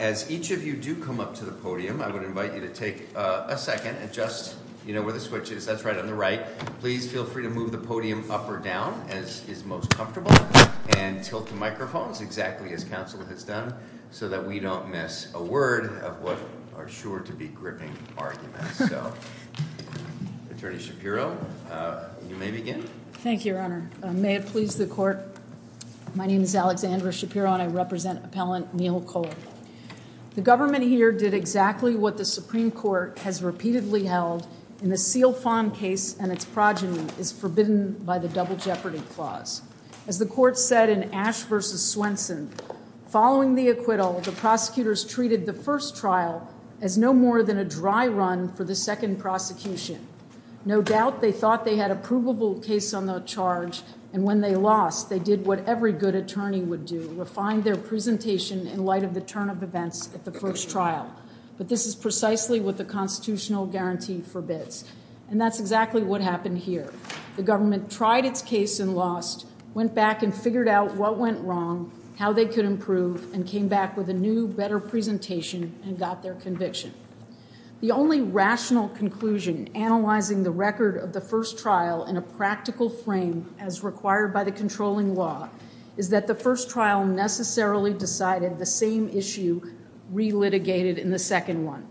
As each of you do come up to the podium, I would invite you to take a second and just, you know, where the switch is, that's right on the right, please feel free to move the podium up or down as is most comfortable, and tilt the microphones exactly as counsel has done, so that we don't miss a word of what are sure to be gripping arguments, so. Attorney Shapiro, you may begin. Thank you, Your Honor. May it please the Court, my name is Alexandra Shapiro and I represent Appellant Neal Cole. The government here did exactly what the Supreme Court has repeatedly held in the Seal Fond case and its progeny is forbidden by the Double Jeopardy Clause. As the Court said in Ash v. Swenson, following the acquittal, the prosecutors treated the first trial as no more than a dry run for the second prosecution. No doubt they thought they had a provable case on the charge, and when they lost, they did what every good attorney would do, refine their presentation in light of the turn of events at the first trial, but this is precisely what the constitutional guarantee forbids, and that's exactly what happened here. The government tried its case and lost, went back and figured out what went wrong, how they could improve, and came back with a new, better presentation and got their conviction. The only rational conclusion analyzing the record of the first trial in a practical frame as required by the controlling law is that the first trial necessarily decided the same issue re-litigated in the second one.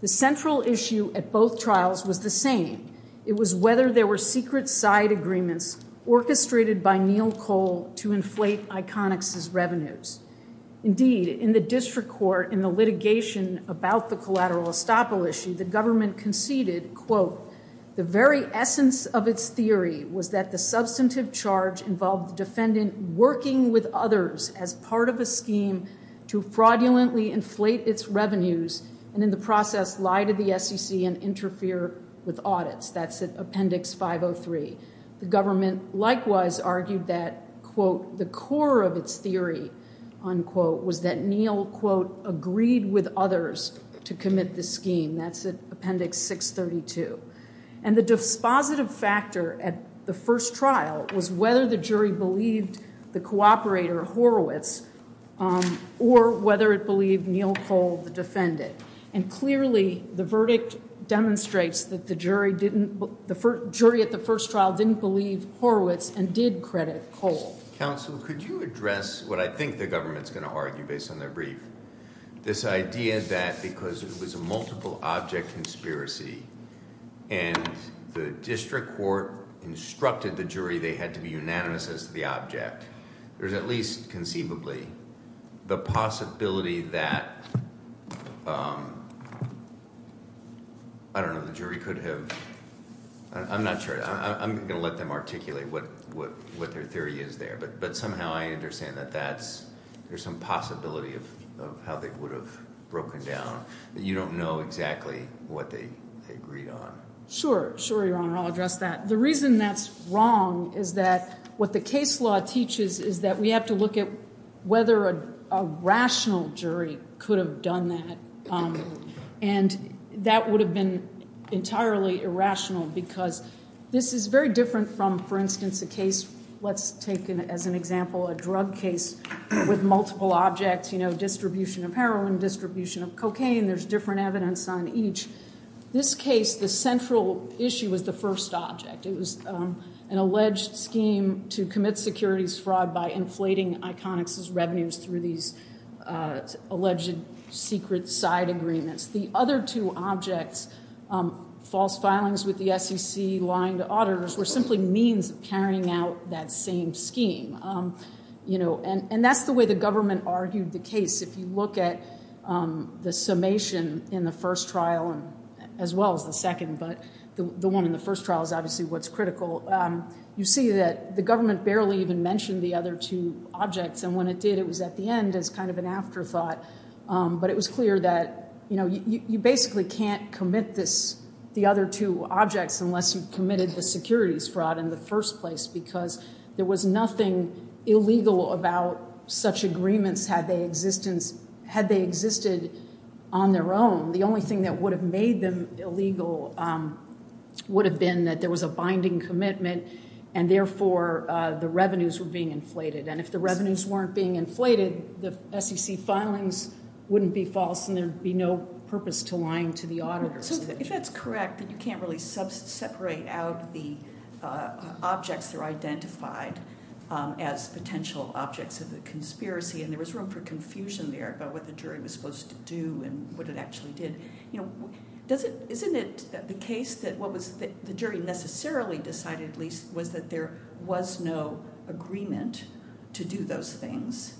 The central issue at both trials was the same, it was whether there were secret side agreements orchestrated by Neal Cole to inflate Iconix's revenues. Indeed, in the district court, in the litigation about the collateral estoppel issue, the government conceded, quote, the very essence of its theory was that the substantive charge involved the defendant working with others as part of a scheme to fraudulently inflate its revenues and in the process lie to the SEC and interfere with audits. That's in Appendix 503. The government likewise argued that, quote, the core of its theory, unquote, was that Neal, quote, agreed with others to commit the scheme. That's in Appendix 632. And the dispositive factor at the first trial was whether the jury believed the cooperator Horowitz or whether it believed Neal Cole, the defendant. And clearly, the verdict demonstrates that the jury at the first trial didn't believe Horowitz and did credit Cole. Counsel, could you address what I think the government's going to argue based on their brief? This idea that because it was a multiple object conspiracy and the district court instructed the jury they had to be unanimous as to the object, there's at least conceivably the possibility that, I don't know, the jury could have, I'm not sure, I'm going to let them articulate what their theory is there, but somehow I understand that that's, there's some possibility of how they would have broken down. You don't know exactly what they agreed on. Sure. Sure, Your Honor, I'll address that. The reason that's wrong is that what the case law teaches is that we have to look at whether a rational jury could have done that. And that would have been entirely irrational because this is very different from, for instance, a case, let's take as an example, a drug case with multiple objects, you know, distribution of heroin, distribution of cocaine, there's different evidence on each. This case, the central issue was the first object. It was an alleged scheme to commit securities fraud by inflating Iconix's revenues through these alleged secret side agreements. The other two objects, false filings with the SEC, lying to auditors, were simply means of carrying out that same scheme. You know, and that's the way the government argued the case. If you look at the summation in the first trial, as well as the second, but the one in the first trial is obviously what's critical, you see that the government barely even mentioned the other two objects, and when it did, it was at the end as kind of an afterthought. But it was clear that, you know, you basically can't commit the other two objects unless you've committed the securities fraud in the first place because there was nothing illegal about such agreements had they existed on their own. The only thing that would have made them illegal would have been that there was a binding commitment and therefore the revenues were being inflated, and if the revenues weren't being inflated, the SEC filings wouldn't be false and there'd be no purpose to lying to the auditors. So if that's correct, then you can't really separate out the objects that are identified as potential objects of the conspiracy, and there was room for confusion there about what the jury was supposed to do and what it actually did. Isn't it the case that what the jury necessarily decided, at least, was that there was no agreement to do those things?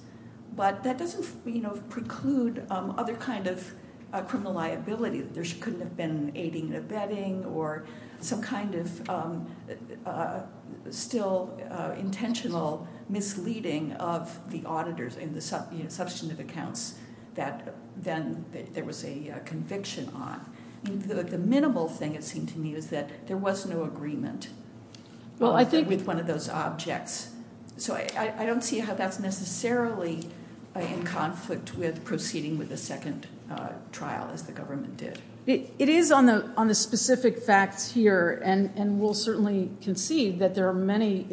But that doesn't preclude other kind of criminal liability. There couldn't have been aiding and abetting or some kind of still intentional misleading of the auditors in the substantive accounts that then there was a conviction on. The minimal thing, it seemed to me, was that there was no agreement with one of those objects. So I don't see how that's necessarily in conflict with proceeding with the second trial as the government did. It is on the specific facts here, and we'll certainly concede that there are many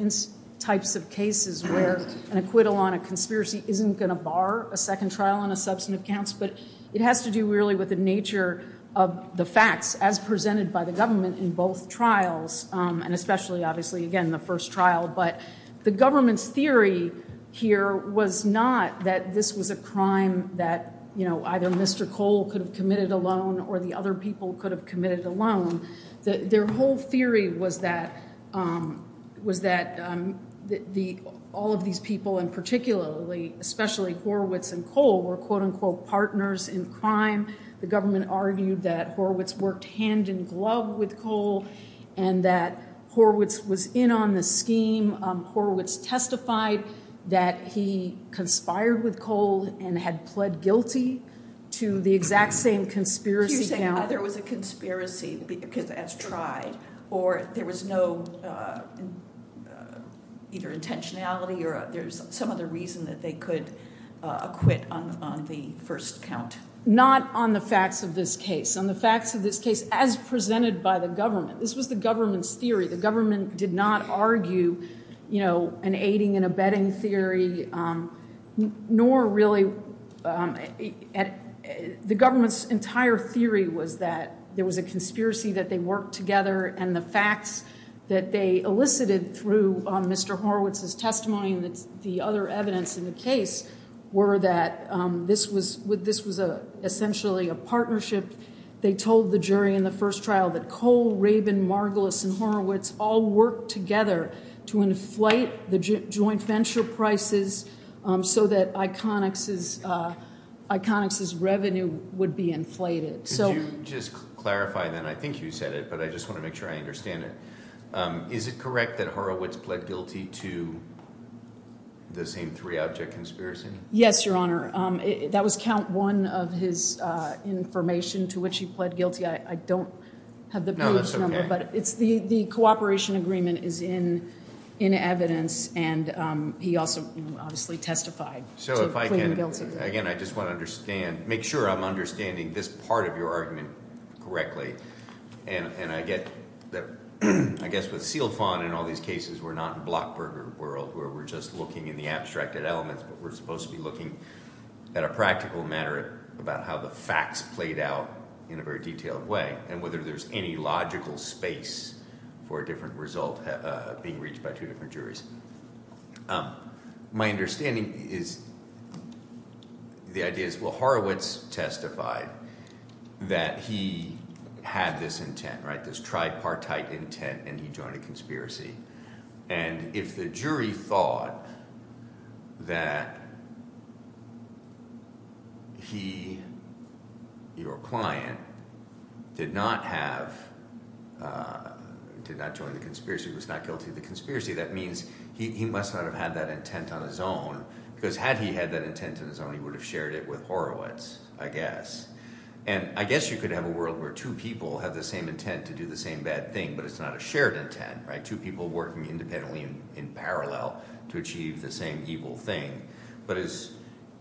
types of cases where an acquittal on a conspiracy isn't going to bar a second trial on a substantive counts, but it has to do really with the nature of the facts as presented by the government in both trials, and especially, obviously, again, the first trial. But the government's theory here was not that this was a crime that either Mr. Cole could have committed alone or the other people could have committed alone. Their whole theory was that all of these people, and particularly, especially Horowitz and Cole, were, quote unquote, partners in crime. The government argued that Horowitz worked hand-in-glove with Cole and that Horowitz was in on the scheme. Horowitz testified that he conspired with Cole and had pled guilty to the exact same conspiracy count. So you're saying either it was a conspiracy as tried or there was no either intentionality or there's some other reason that they could acquit on the first count. Not on the facts of this case. On the facts of this case as presented by the government. This was the government's theory. The government did not argue an aiding and abetting theory, nor really the government's entire theory was that there was a conspiracy that they worked together and the facts that they elicited through Mr. Horowitz's testimony and the other evidence in the case were that this was essentially a partnership. They told the jury in the first trial that Cole, Rabin, Margolis, and Horowitz all worked together to inflate the joint venture prices so that Iconix's revenue would be inflated. Could you just clarify then, I think you said it, but I just want to make sure I understand it. Is it correct that Horowitz pled guilty to the same three object conspiracy? Yes, your honor. That was count one of his information to which he pled guilty. I don't have the page number. The cooperation agreement is in evidence and he also obviously testified to pleading guilty. Again, I just want to make sure I'm understanding this part of your argument correctly. I guess with Silfon in all these cases, we're not in Blockburger world where we're just looking in the abstracted elements, but we're supposed to be looking at a practical matter about how the facts played out in a very detailed way and whether there's any logical space for a different result being reached by two different juries. My understanding is the idea is, well, Horowitz testified that he had this intent, this tripartite intent and he joined a conspiracy. If the jury thought that he, your client, did not join the conspiracy, was not guilty of the conspiracy, that means he must not have had that intent on his own because had he had that intent on his own, he would have shared it with Horowitz, I guess. I guess you could have a world where two people have the same intent to do the same bad thing, but it's not a shared intent. Two people working independently and in parallel to achieve the same evil thing, but is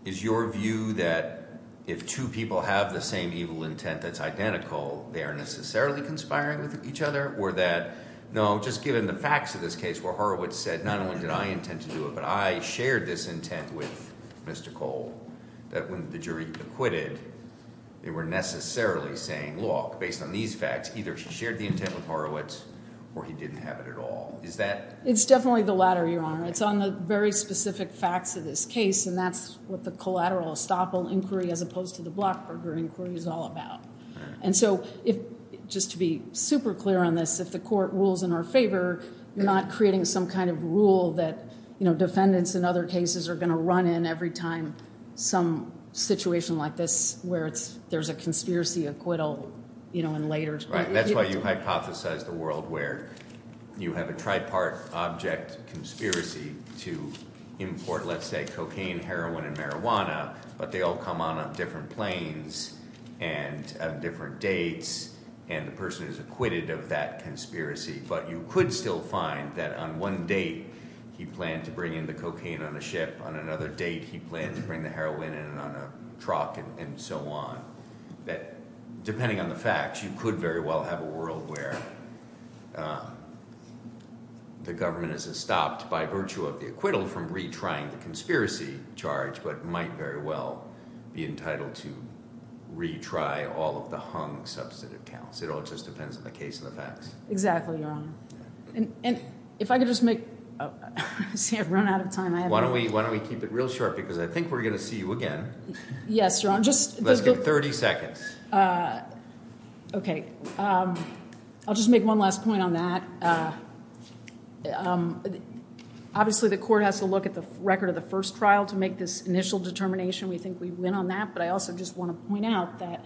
your view that if two people have the same evil intent that's identical, they are necessarily conspiring with each other or that, no, just given the facts of this case where Horowitz said not only did I intend to do it, but I shared this intent with Mr. Cole, that when the jury acquitted, they were necessarily saying, look, based on these facts, either he shared the intent with Horowitz or he didn't have it at all. Is that? It's definitely the latter, Your Honor. It's on the very specific facts of this case and that's what the collateral estoppel inquiry as opposed to the Blockburger inquiry is all about. And so, just to be super clear on this, if the court rules in our favor, you're not creating some kind of rule that defendants in other cases are going to run in every time some situation like this where there's a conspiracy acquittal in later. That's why you hypothesize the world where you have a tripartite object conspiracy to import, let's say, cocaine, heroin, and marijuana, but they all come on different planes and on different dates and the person is acquitted of that conspiracy. But you could still find that on one date, he planned to bring in the cocaine on a ship. On another date, he planned to bring the heroin in on a truck and so on. Depending on the facts, you could very well have a world where the government is estopped by virtue of the acquittal from retrying the conspiracy charge, but might very well be entitled to retry all of the hung substantive counts. It all just depends on the case and the facts. Exactly, Your Honor. And if I could just make, see, I've run out of time. Why don't we keep it real sharp because I think we're going to see you again. Yes, Your Honor. Let's give 30 seconds. Okay. I'll just make one last point on that. Obviously, the court has to look at the record of the first trial to make this initial determination. We think we win on that, but I also just want to point out that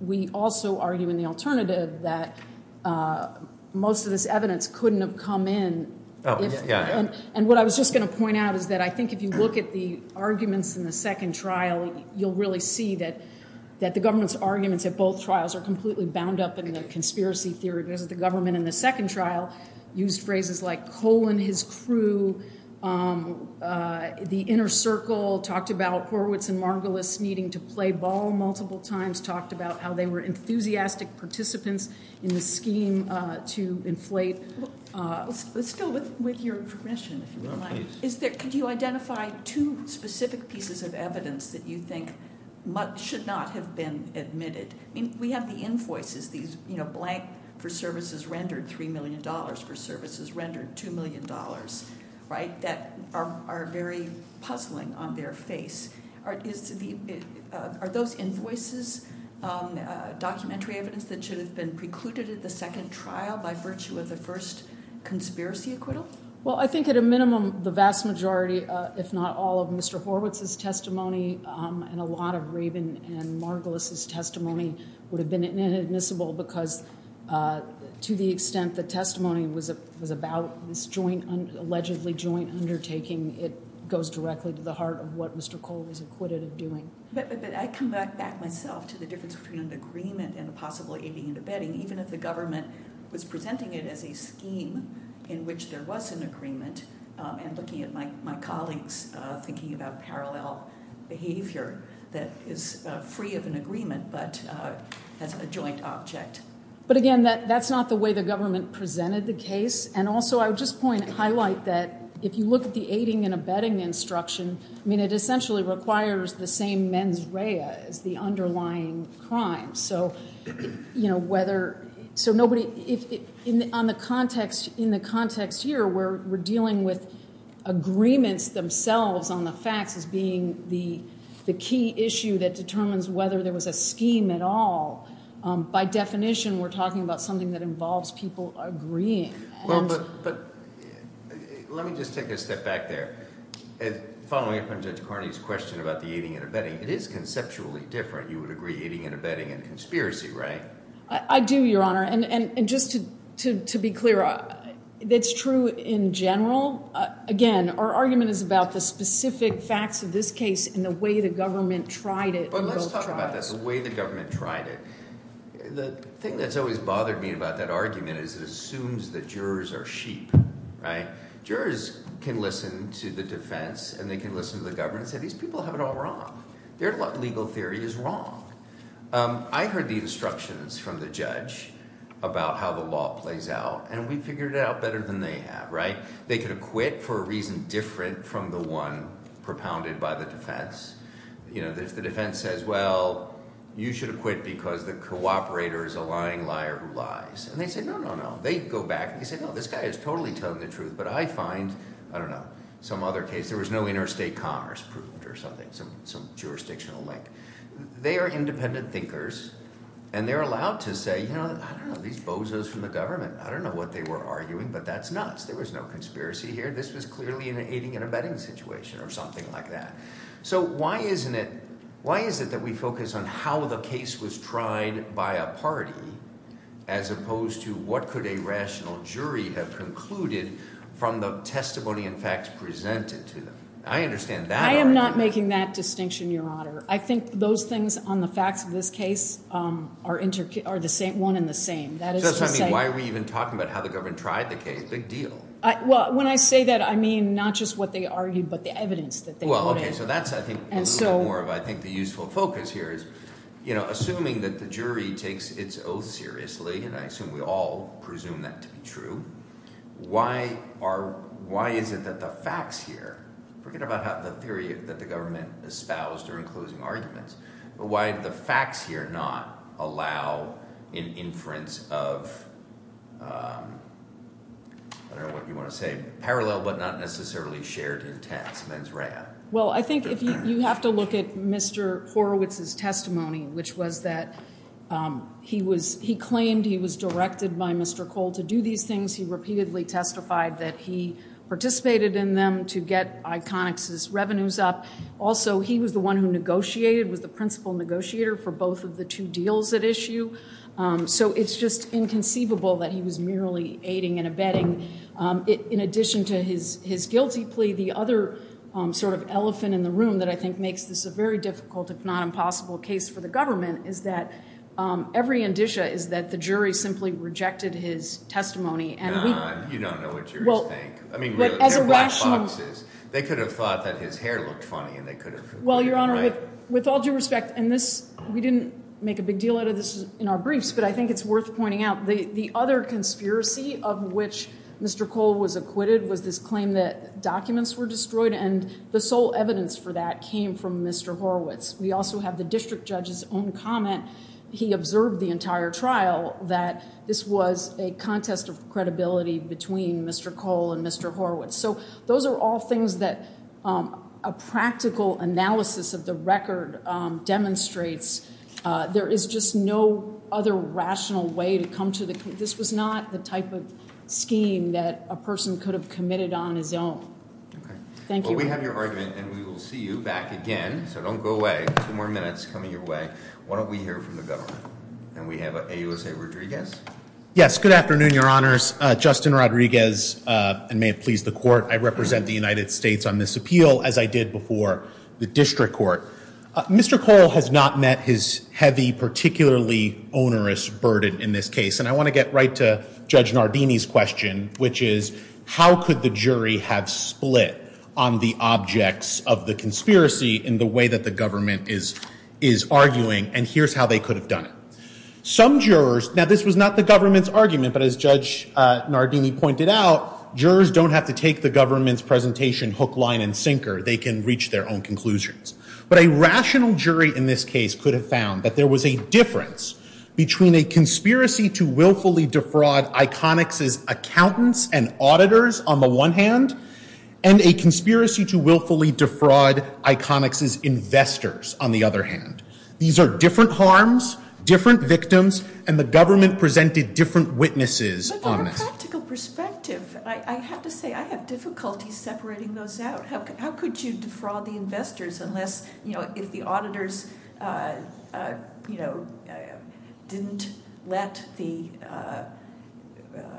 we also argue in the alternative that most of this evidence couldn't have come in. And what I was just going to point out is that I think if you look at the arguments in the second trial, you'll really see that the government's arguments at both trials are completely bound up in the conspiracy theory. Because the government in the second trial used phrases like, colon his crew. The inner circle talked about Horowitz and Margulis needing to play ball multiple times, talked about how they were enthusiastic participants in the scheme to inflate. Let's go with your question, if you don't mind. Well, please. Could you identify two specific pieces of evidence that you think should not have been admitted? We have the invoices, these blank for services rendered $3 million for services rendered $2 million, that are very puzzling on their face. Are those invoices documentary evidence that should have been precluded at the second trial by virtue of the first conspiracy acquittal? Well, I think at a minimum, the vast majority, if not all of Mr. Horowitz's testimony and a lot of Rabin and Margulis's testimony would have been inadmissible because to the extent the testimony was about this allegedly joint undertaking, it goes directly to the heart of what Mr. Cole was acquitted of doing. But I come back myself to the difference between an agreement and a possible aiding and abetting. Even if the government was presenting it as a scheme in which there was an agreement and looking at my colleagues thinking about parallel behavior that is free of an agreement but as a joint object. But again, that's not the way the government presented the case. And also I would just highlight that if you look at the aiding and abetting instruction, it essentially requires the same mens rea as the underlying crime. So in the context here where we're dealing with agreements themselves on the facts as being the key issue that determines whether there was a scheme at all, by definition we're talking about something that involves people agreeing. Well, but let me just take a step back there. Following up on Judge Carney's question about the aiding and abetting, it is conceptually different. You would agree aiding and abetting and conspiracy, right? I do, Your Honor. And just to be clear, it's true in general. Again, our argument is about the specific facts of this case and the way the government tried it in both trials. But let's talk about this, the way the government tried it. The thing that's always bothered me about that argument is it assumes that jurors are sheep. Jurors can listen to the defense and they can listen to the government and say these people have it all wrong. Their legal theory is wrong. I heard the instructions from the judge about how the law plays out, and we figured it out better than they have, right? They could acquit for a reason different from the one propounded by the defense. If the defense says, well, you should acquit because the cooperator is a lying liar who lies. And they say, no, no, no. They go back and they say, no, this guy is totally telling the truth, but I find, I don't know, some other case. There was no interstate commerce proved or something, some jurisdictional link. They are independent thinkers, and they're allowed to say, you know, I don't know these bozos from the government. I don't know what they were arguing, but that's nuts. There was no conspiracy here. This was clearly an aiding and abetting situation or something like that. So why is it that we focus on how the case was tried by a party as opposed to what could a rational jury have concluded from the testimony and facts presented to them? I understand that argument. I am not making that distinction, Your Honor. I think those things on the facts of this case are one and the same. Why are we even talking about how the government tried the case? Big deal. Well, when I say that, I mean not just what they argued but the evidence that they put in. Well, okay, so that's a little bit more of, I think, the useful focus here is, you know, assuming that the jury takes its oath seriously, and I assume we all presume that to be true, why is it that the facts here, forget about the theory that the government espoused during closing arguments, but why did the facts here not allow an inference of, I don't know what you want to say, parallel but not necessarily shared intents, mens rea. Well, I think you have to look at Mr. Horowitz's testimony, which was that he claimed he was directed by Mr. Cole to do these things. He repeatedly testified that he participated in them to get Iconix's revenues up. Also, he was the one who negotiated, was the principal negotiator for both of the two deals at issue. So it's just inconceivable that he was merely aiding and abetting. In addition to his guilty plea, the other sort of elephant in the room that I think makes this a very difficult, if not impossible, case for the government is that every indicia is that the jury simply rejected his testimony. You don't know what jurors think. I mean, they're black boxes. They could have thought that his hair looked funny and they could have been right. Well, Your Honor, with all due respect, and we didn't make a big deal out of this in our briefs, but I think it's worth pointing out, the other conspiracy of which Mr. Cole was acquitted was this claim that documents were destroyed, and the sole evidence for that came from Mr. Horowitz. We also have the district judge's own comment. He observed the entire trial that this was a contest of credibility between Mr. Cole and Mr. Horowitz. So those are all things that a practical analysis of the record demonstrates. There is just no other rational way to come to the conclusion. This was not the type of scheme that a person could have committed on his own. Thank you. Well, we have your argument, and we will see you back again. So don't go away. Two more minutes coming your way. Why don't we hear from the government? And we have AUSA Rodriguez. Yes, good afternoon, Your Honors. Justin Rodriguez, and may it please the Court, I represent the United States on this appeal, as I did before the district court. Mr. Cole has not met his heavy, particularly onerous burden in this case, and I want to get right to Judge Nardini's question, which is how could the jury have split on the objects of the conspiracy in the way that the government is arguing, and here's how they could have done it. Some jurors, now this was not the government's argument, but as Judge Nardini pointed out, jurors don't have to take the government's presentation hook, line, and sinker. They can reach their own conclusions. But a rational jury in this case could have found that there was a difference between a conspiracy to willfully defraud Iconix's accountants and auditors, on the one hand, and a conspiracy to willfully defraud Iconix's investors, on the other hand. These are different harms, different victims, and the government presented different witnesses on this. But from a practical perspective, I have to say I have difficulty separating those out. How could you defraud the investors unless, you know, if the auditors, you know, didn't let the,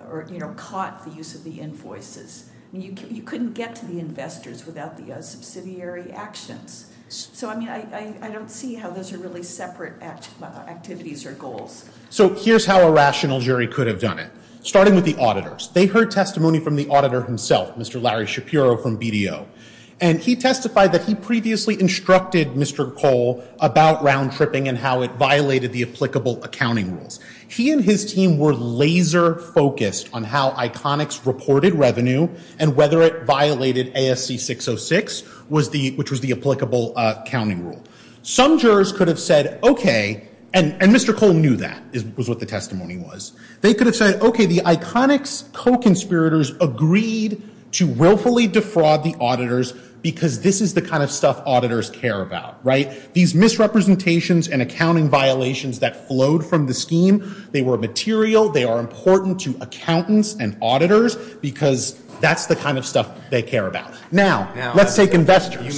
or, you know, caught the use of the invoices? You couldn't get to the investors without the subsidiary actions. So, I mean, I don't see how those are really separate activities or goals. So here's how a rational jury could have done it, starting with the auditors. They heard testimony from the auditor himself, Mr. Larry Shapiro from BDO, and he testified that he previously instructed Mr. Cole about round-tripping and how it violated the applicable accounting rules. He and his team were laser-focused on how Iconix reported revenue and whether it violated ASC 606, which was the applicable accounting rule. Some jurors could have said, okay, and Mr. Cole knew that was what the testimony was. They could have said, okay, the Iconix co-conspirators agreed to willfully defraud the auditors because this is the kind of stuff auditors care about, right? These misrepresentations and accounting violations that flowed from the scheme, they were material. They are important to accountants and auditors because that's the kind of stuff they care about. Now, let's take investors. You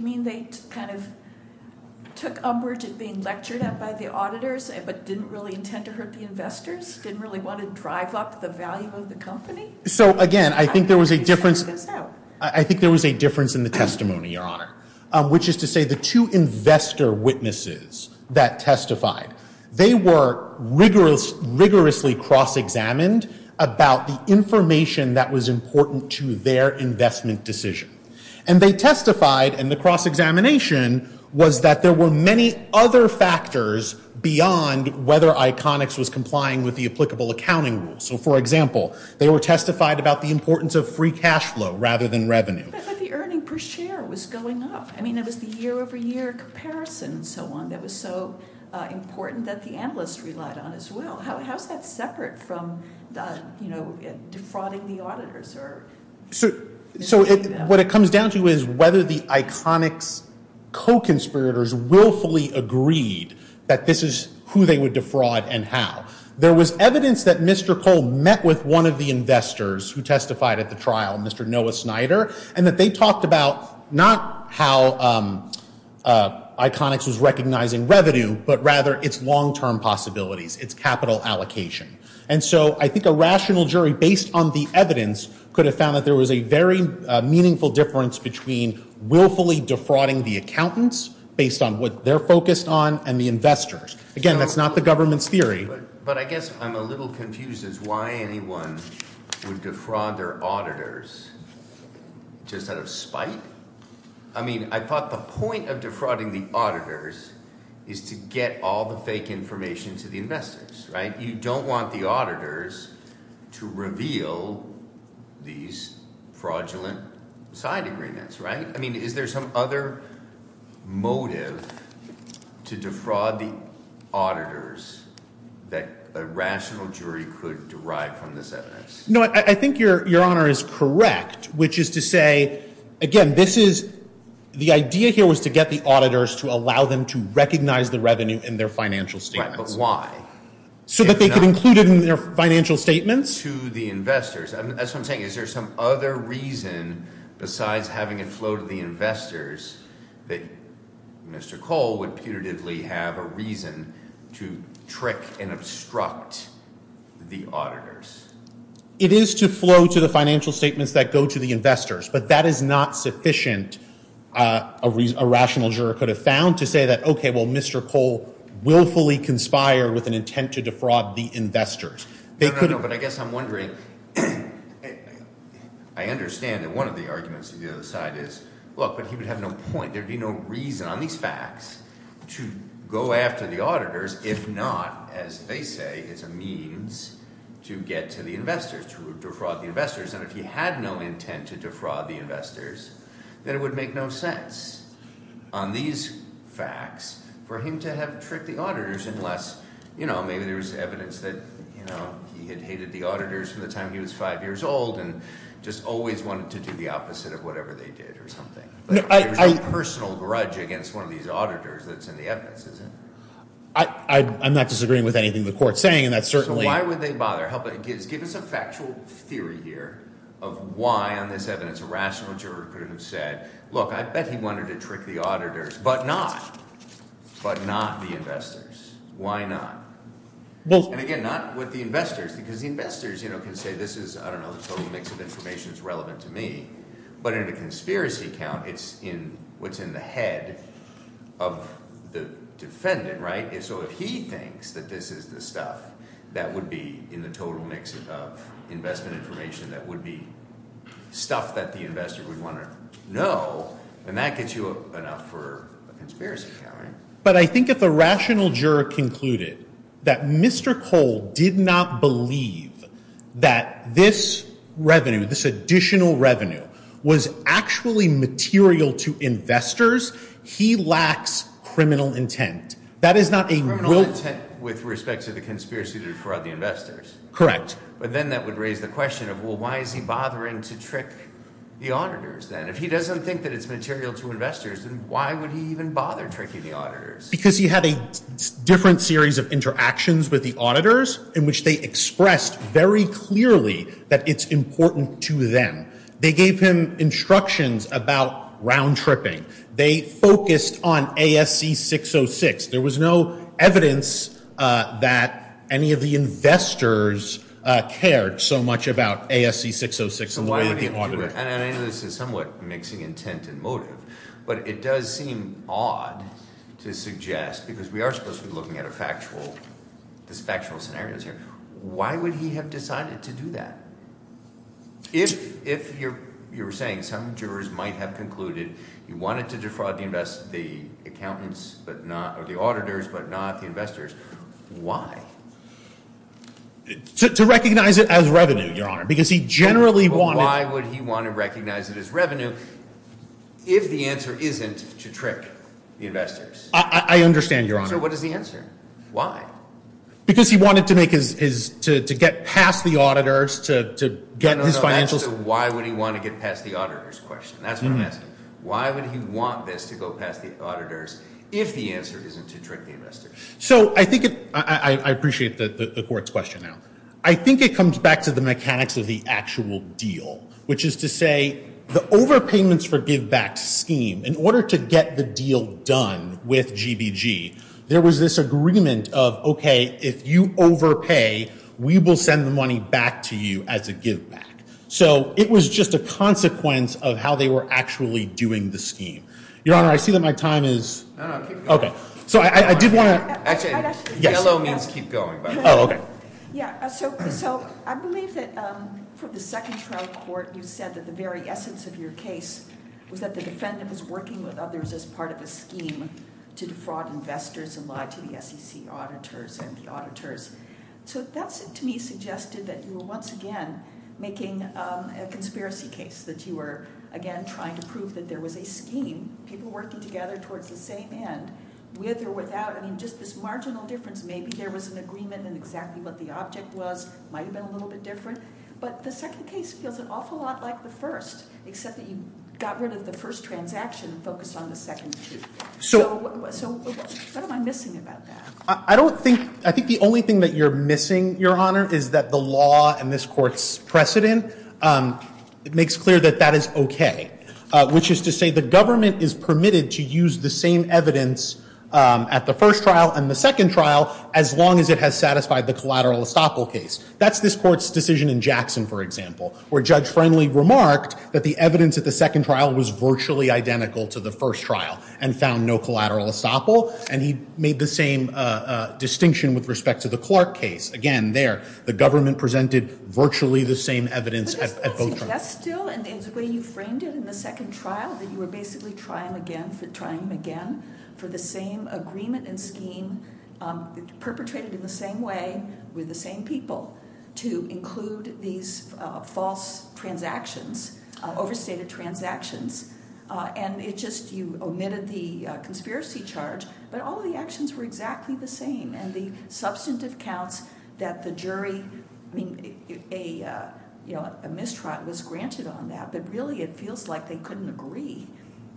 mean they kind of took umbrage at being lectured at by the auditors but didn't really intend to hurt the investors, didn't really want to drive up the value of the company? So, again, I think there was a difference in the testimony, Your Honor, which is to say the two investor witnesses that testified, they were rigorously cross-examined about the information that was important to their investment decision. And they testified in the cross-examination was that there were many other factors beyond whether Iconix was complying with the applicable accounting rule. So, for example, they were testified about the importance of free cash flow rather than revenue. But the earning per share was going up. I mean, it was the year-over-year comparison and so on that was so important that the analysts relied on as well. How is that separate from defrauding the auditors? So, what it comes down to is whether the Iconix co-conspirators willfully agreed that this is who they would defraud and how. There was evidence that Mr. Cole met with one of the investors who testified at the trial, Mr. Noah Snyder, and that they talked about not how Iconix was recognizing revenue, but rather its long-term possibilities, its capital allocation. And so I think a rational jury, based on the evidence, could have found that there was a very meaningful difference between willfully defrauding the accountants based on what they're focused on and the investors. Again, that's not the government's theory. But I guess I'm a little confused as to why anyone would defraud their auditors just out of spite. I mean, I thought the point of defrauding the auditors is to get all the fake information to the investors, right? You don't want the auditors to reveal these fraudulent side agreements, right? I mean, is there some other motive to defraud the auditors that a rational jury could derive from this evidence? No, I think Your Honor is correct, which is to say, again, this is – the idea here was to get the auditors to allow them to recognize the revenue in their financial statements. Right, but why? So that they could include it in their financial statements. That's what I'm saying. Is there some other reason, besides having it flow to the investors, that Mr. Cole would putatively have a reason to trick and obstruct the auditors? It is to flow to the financial statements that go to the investors, but that is not sufficient a rational juror could have found to say that, okay, well, Mr. Cole willfully conspired with an intent to defraud the investors. No, no, no, but I guess I'm wondering – I understand that one of the arguments on the other side is, look, but he would have no point. There would be no reason on these facts to go after the auditors if not, as they say, as a means to get to the investors, to defraud the investors. And if he had no intent to defraud the investors, then it would make no sense on these facts for him to have tricked the auditors unless, you know, maybe there was evidence that he had hated the auditors from the time he was five years old and just always wanted to do the opposite of whatever they did or something. There's no personal grudge against one of these auditors that's in the evidence, is there? I'm not disagreeing with anything the Court's saying, and that's certainly – So why would they bother? Give us a factual theory here of why on this evidence a rational juror could have said, look, I bet he wanted to trick the auditors, but not the investors. Why not? And again, not with the investors because the investors can say this is – I don't know, the total mix of information is relevant to me. But in a conspiracy account, it's in what's in the head of the defendant, right? So if he thinks that this is the stuff that would be in the total mix of investment information that would be stuff that the investor would want to know, then that gets you enough for a conspiracy account, right? But I think if a rational juror concluded that Mr. Cole did not believe that this revenue, this additional revenue, was actually material to investors, he lacks criminal intent. That is not a – Criminal intent with respect to the conspiracy for the investors. Correct. But then that would raise the question of, well, why is he bothering to trick the auditors then? If he doesn't think that it's material to investors, then why would he even bother tricking the auditors? Because he had a different series of interactions with the auditors in which they expressed very clearly that it's important to them. They gave him instructions about round-tripping. They focused on ASC 606. There was no evidence that any of the investors cared so much about ASC 606 in the way of the auditor. And I know this is somewhat mixing intent and motive, but it does seem odd to suggest, because we are supposed to be looking at a factual – these factual scenarios here. Why would he have decided to do that? If you're saying some jurors might have concluded he wanted to defraud the accountants or the auditors but not the investors, why? To recognize it as revenue, Your Honor, because he generally wanted – But why would he want to recognize it as revenue if the answer isn't to trick the investors? I understand, Your Honor. So what is the answer? Why? Because he wanted to make his – to get past the auditors, to get his financial – No, no, no. That's the why would he want to get past the auditors question. That's what I'm asking. Why would he want this to go past the auditors if the answer isn't to trick the investors? So I think it – I appreciate the court's question now. I think it comes back to the mechanics of the actual deal, which is to say the overpayments for givebacks scheme, in order to get the deal done with GBG, there was this agreement of, okay, if you overpay, we will send the money back to you as a giveback. So it was just a consequence of how they were actually doing the scheme. Your Honor, I see that my time is – No, no. Keep going. Okay. So I did want to – Actually, yellow means keep going, by the way. Oh, okay. Yeah. So I believe that for the second trial court, you said that the very essence of your case was that the defendant was working with others as part of a scheme to defraud investors and lie to the SEC auditors and the auditors. So that, to me, suggested that you were once again making a conspiracy case, that you were, again, trying to prove that there was a scheme, people working together towards the same end, with or without – I mean, just this marginal difference. Maybe there was an agreement in exactly what the object was. It might have been a little bit different. But the second case feels an awful lot like the first, except that you got rid of the first transaction and focused on the second two. So what am I missing about that? I don't think – I think the only thing that you're missing, Your Honor, is that the law and this court's precedent makes clear that that is okay, which is to say the government is permitted to use the same evidence at the first trial and the second trial as long as it has satisfied the collateral estoppel case. That's this court's decision in Jackson, for example, where Judge Friendly remarked that the evidence at the second trial was virtually identical to the first trial and found no collateral estoppel. And he made the same distinction with respect to the Clark case. Again, there, the government presented virtually the same evidence at both trials. So that's still – and the way you framed it in the second trial, that you were basically trying them again for the same agreement and scheme, perpetrated in the same way with the same people, to include these false transactions, overstated transactions. And it just – you omitted the conspiracy charge, but all the actions were exactly the same. And the substantive counts that the jury – I mean, a mistrial was granted on that, but really it feels like they couldn't agree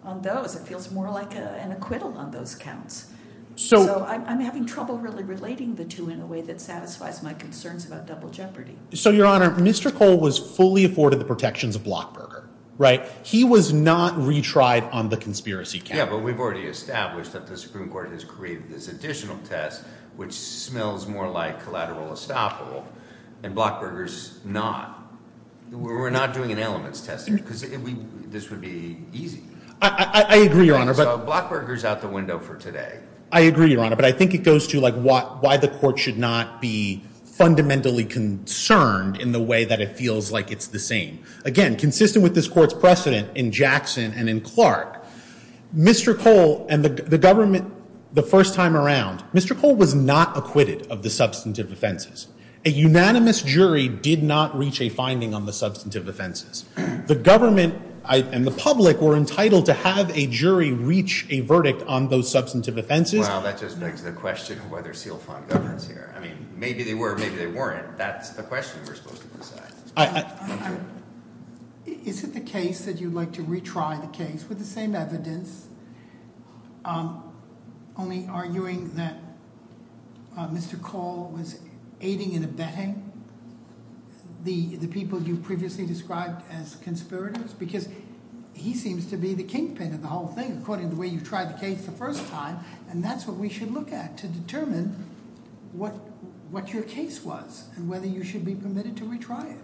on those. It feels more like an acquittal on those counts. So I'm having trouble really relating the two in a way that satisfies my concerns about double jeopardy. So, Your Honor, Mr. Cole was fully afforded the protections of Blockberger, right? He was not retried on the conspiracy count. Yeah, but we've already established that the Supreme Court has created this additional test, which smells more like collateral estoppel. And Blockberger's not. We're not doing an elements test because this would be easy. I agree, Your Honor. So Blockberger's out the window for today. I agree, Your Honor. But I think it goes to, like, why the court should not be fundamentally concerned in the way that it feels like it's the same. Again, consistent with this court's precedent in Jackson and in Clark, Mr. Cole and the government the first time around, Mr. Cole was not acquitted of the substantive offenses. A unanimous jury did not reach a finding on the substantive offenses. The government and the public were entitled to have a jury reach a verdict on those substantive offenses. Well, that just begs the question of whether seal font governs here. I mean, maybe they were, maybe they weren't. That's the question we're supposed to decide. Is it the case that you'd like to retry the case with the same evidence, only arguing that Mr. Cole was aiding and abetting the people you previously described as conspirators? Because he seems to be the kingpin of the whole thing, according to the way you tried the case the first time. And that's what we should look at to determine what your case was and whether you should be permitted to retry it.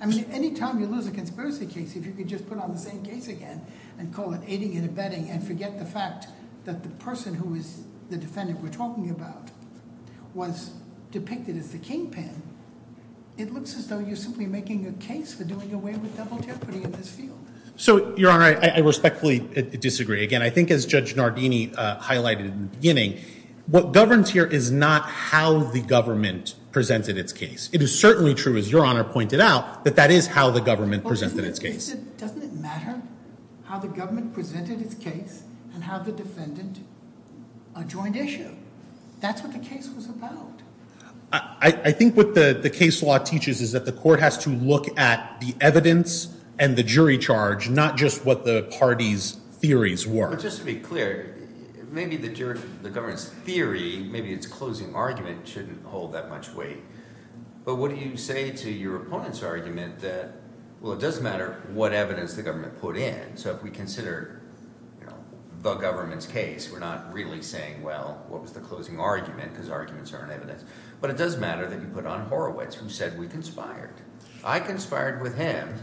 I mean, any time you lose a conspiracy case, if you could just put on the same case again and call it aiding and abetting and forget the fact that the person who is the defendant we're talking about was depicted as the kingpin, it looks as though you're simply making a case for doing away with double jeopardy in this field. So, Your Honor, I respectfully disagree. Again, I think as Judge Nardini highlighted in the beginning, what governs here is not how the government presented its case. It is certainly true, as Your Honor pointed out, that that is how the government presented its case. Doesn't it matter how the government presented its case and how the defendant adjoined issue? That's what the case was about. I think what the case law teaches is that the court has to look at the evidence and the jury charge, not just what the party's theories were. But just to be clear, maybe the government's theory, maybe its closing argument, shouldn't hold that much weight. But what do you say to your opponent's argument that, well, it doesn't matter what evidence the government put in. So if we consider the government's case, we're not really saying, well, what was the closing argument because arguments aren't evidence. But it does matter that you put on Horowitz, who said we conspired. I conspired with him.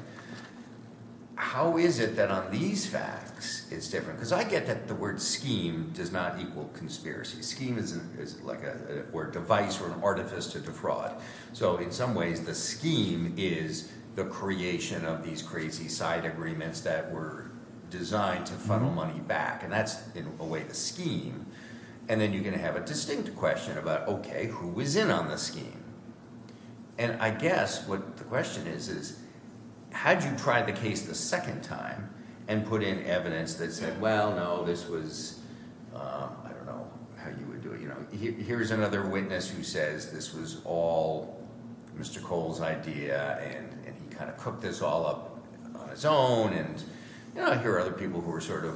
How is it that on these facts it's different? Because I get that the word scheme does not equal conspiracy. Scheme is like a word device or an artifice to defraud. So in some ways, the scheme is the creation of these crazy side agreements that were designed to funnel money back. And that's, in a way, the scheme. And then you're going to have a distinct question about, okay, who was in on the scheme? And I guess what the question is, is had you tried the case the second time and put in evidence that said, well, no, this was – I don't know how you would do it. Here's another witness who says this was all Mr. Cole's idea and he kind of cooked this all up on his own. Here are other people who are sort of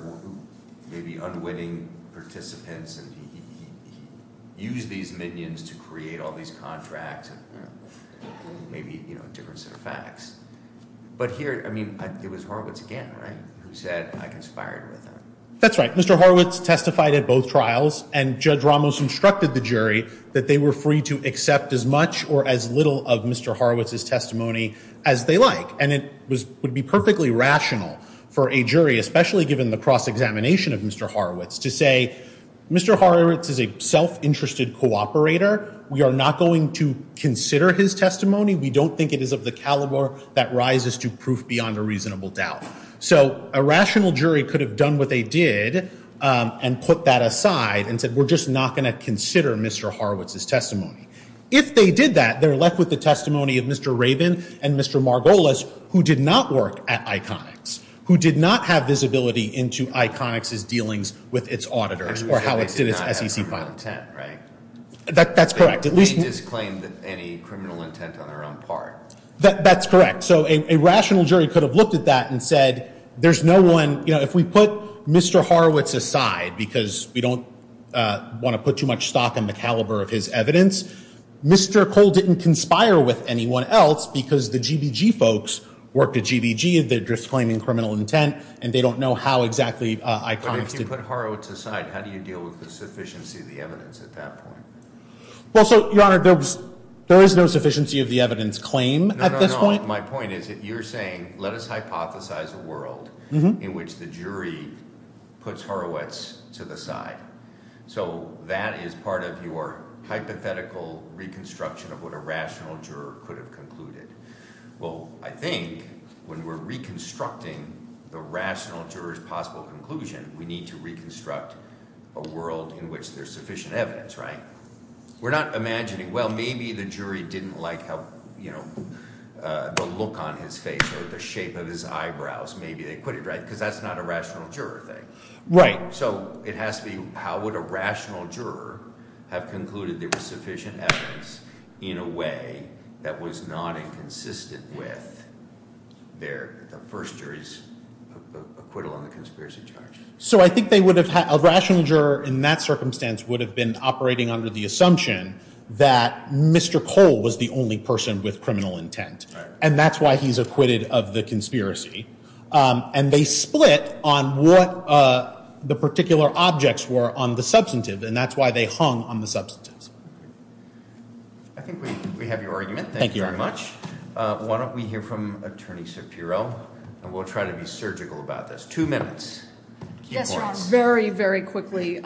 maybe unwitting participants and he used these minions to create all these contracts and maybe a different set of facts. But here, I mean, it was Horowitz again, right, who said I conspired with him. That's right. Mr. Horowitz testified at both trials, and Judge Ramos instructed the jury that they were free to accept as much or as little of Mr. Horowitz's testimony as they like. And it would be perfectly rational for a jury, especially given the cross-examination of Mr. Horowitz, to say Mr. Horowitz is a self-interested cooperator. We are not going to consider his testimony. We don't think it is of the caliber that rises to proof beyond a reasonable doubt. So a rational jury could have done what they did and put that aside and said we're just not going to consider Mr. Horowitz's testimony. If they did that, they're left with the testimony of Mr. Raven and Mr. Margolis, who did not work at Iconics, who did not have visibility into Iconics' dealings with its auditors or how it did its SEC file. That's correct. They just claimed any criminal intent on their own part. That's correct. So a rational jury could have looked at that and said if we put Mr. Horowitz aside because we don't want to put too much stock in the caliber of his evidence, Mr. Cole didn't conspire with anyone else because the GBG folks worked at GBG and they're just claiming criminal intent and they don't know how exactly Iconics did. But if you put Horowitz aside, how do you deal with the sufficiency of the evidence at that point? Well, so, Your Honor, there is no sufficiency of the evidence claim at this point. My point is that you're saying let us hypothesize a world in which the jury puts Horowitz to the side. So that is part of your hypothetical reconstruction of what a rational juror could have concluded. Well, I think when we're reconstructing the rational juror's possible conclusion, we need to reconstruct a world in which there's sufficient evidence, right? We're not imagining, well, maybe the jury didn't like the look on his face or the shape of his eyebrows. Maybe they put it right because that's not a rational juror thing. So it has to be how would a rational juror have concluded there was sufficient evidence in a way that was not inconsistent with the first jury's acquittal on the conspiracy charge? So I think a rational juror in that circumstance would have been operating under the assumption that Mr. Cole was the only person with criminal intent. And that's why he's acquitted of the conspiracy. And they split on what the particular objects were on the substantive. And that's why they hung on the substantives. I think we have your argument. Thank you very much. Why don't we hear from Attorney Shapiro? And we'll try to be surgical about this. Two minutes. Yes, Your Honor. Very, very quickly.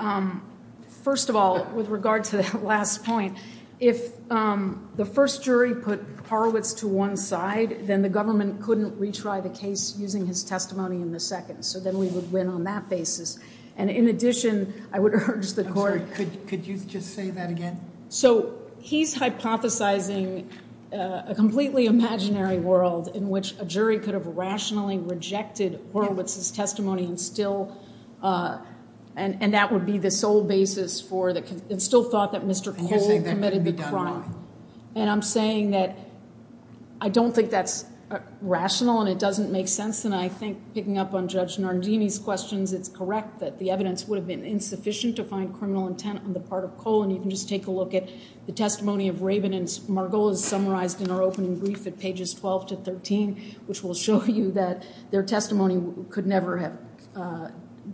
First of all, with regard to that last point, if the first jury put Horowitz to one side, then the government couldn't retry the case using his testimony in the second. So then we would win on that basis. And in addition, I would urge the court— I'm sorry, could you just say that again? So he's hypothesizing a completely imaginary world in which a jury could have rationally rejected Horowitz's testimony and still— and that would be the sole basis for the—and still thought that Mr. Cole committed the crime. And I'm saying that I don't think that's rational and it doesn't make sense. And I think picking up on Judge Nardini's questions, it's correct that the evidence would have been insufficient to find criminal intent on the part of Cole. And you can just take a look at the testimony of Rabin and Margolis summarized in our opening brief at pages 12 to 13, which will show you that their testimony could never have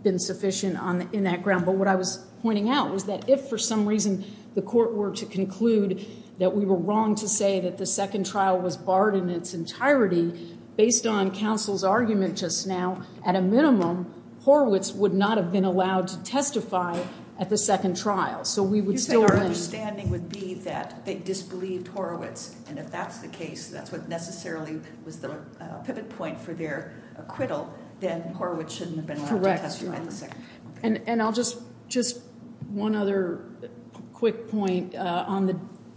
been sufficient in that ground. But what I was pointing out was that if for some reason the court were to conclude that we were wrong to say that the second trial was barred in its entirety, based on counsel's argument just now, at a minimum, Horowitz would not have been allowed to testify at the second trial. So we would still— You're saying our understanding would be that they disbelieved Horowitz. And if that's the case, that's what necessarily was the pivot point for their acquittal, then Horowitz shouldn't have been allowed to testify at the second trial. And I'll just—just one other quick point on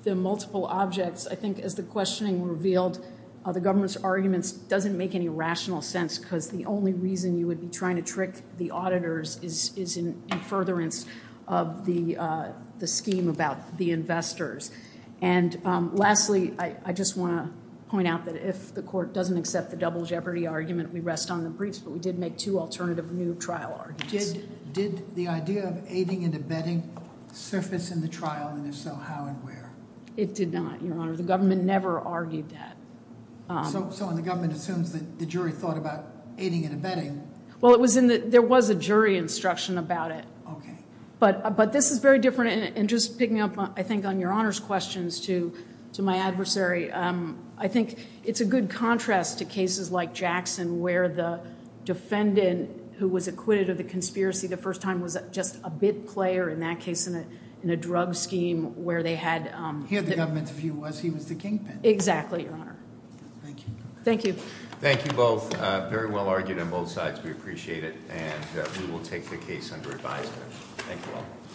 the multiple objects. I think as the questioning revealed, the government's arguments doesn't make any rational sense because the only reason you would be trying to trick the auditors is in furtherance of the scheme about the investors. And lastly, I just want to point out that if the court doesn't accept the double jeopardy argument, we rest on the briefs. But we did make two alternative new trial arguments. Did the idea of aiding and abetting surface in the trial? And if so, how and where? It did not, Your Honor. The government never argued that. So the government assumes that the jury thought about aiding and abetting. Well, there was a jury instruction about it. Okay. But this is very different. And just picking up, I think, on Your Honor's questions to my adversary, I think it's a good contrast to cases like Jackson where the defendant who was acquitted of the conspiracy the first time was just a bit player in that case in a drug scheme where they had— Here the government's view was he was the kingpin. Exactly, Your Honor. Thank you. Thank you. Thank you both. Very well argued on both sides. We appreciate it. And we will take the case under advisement. Thank you all.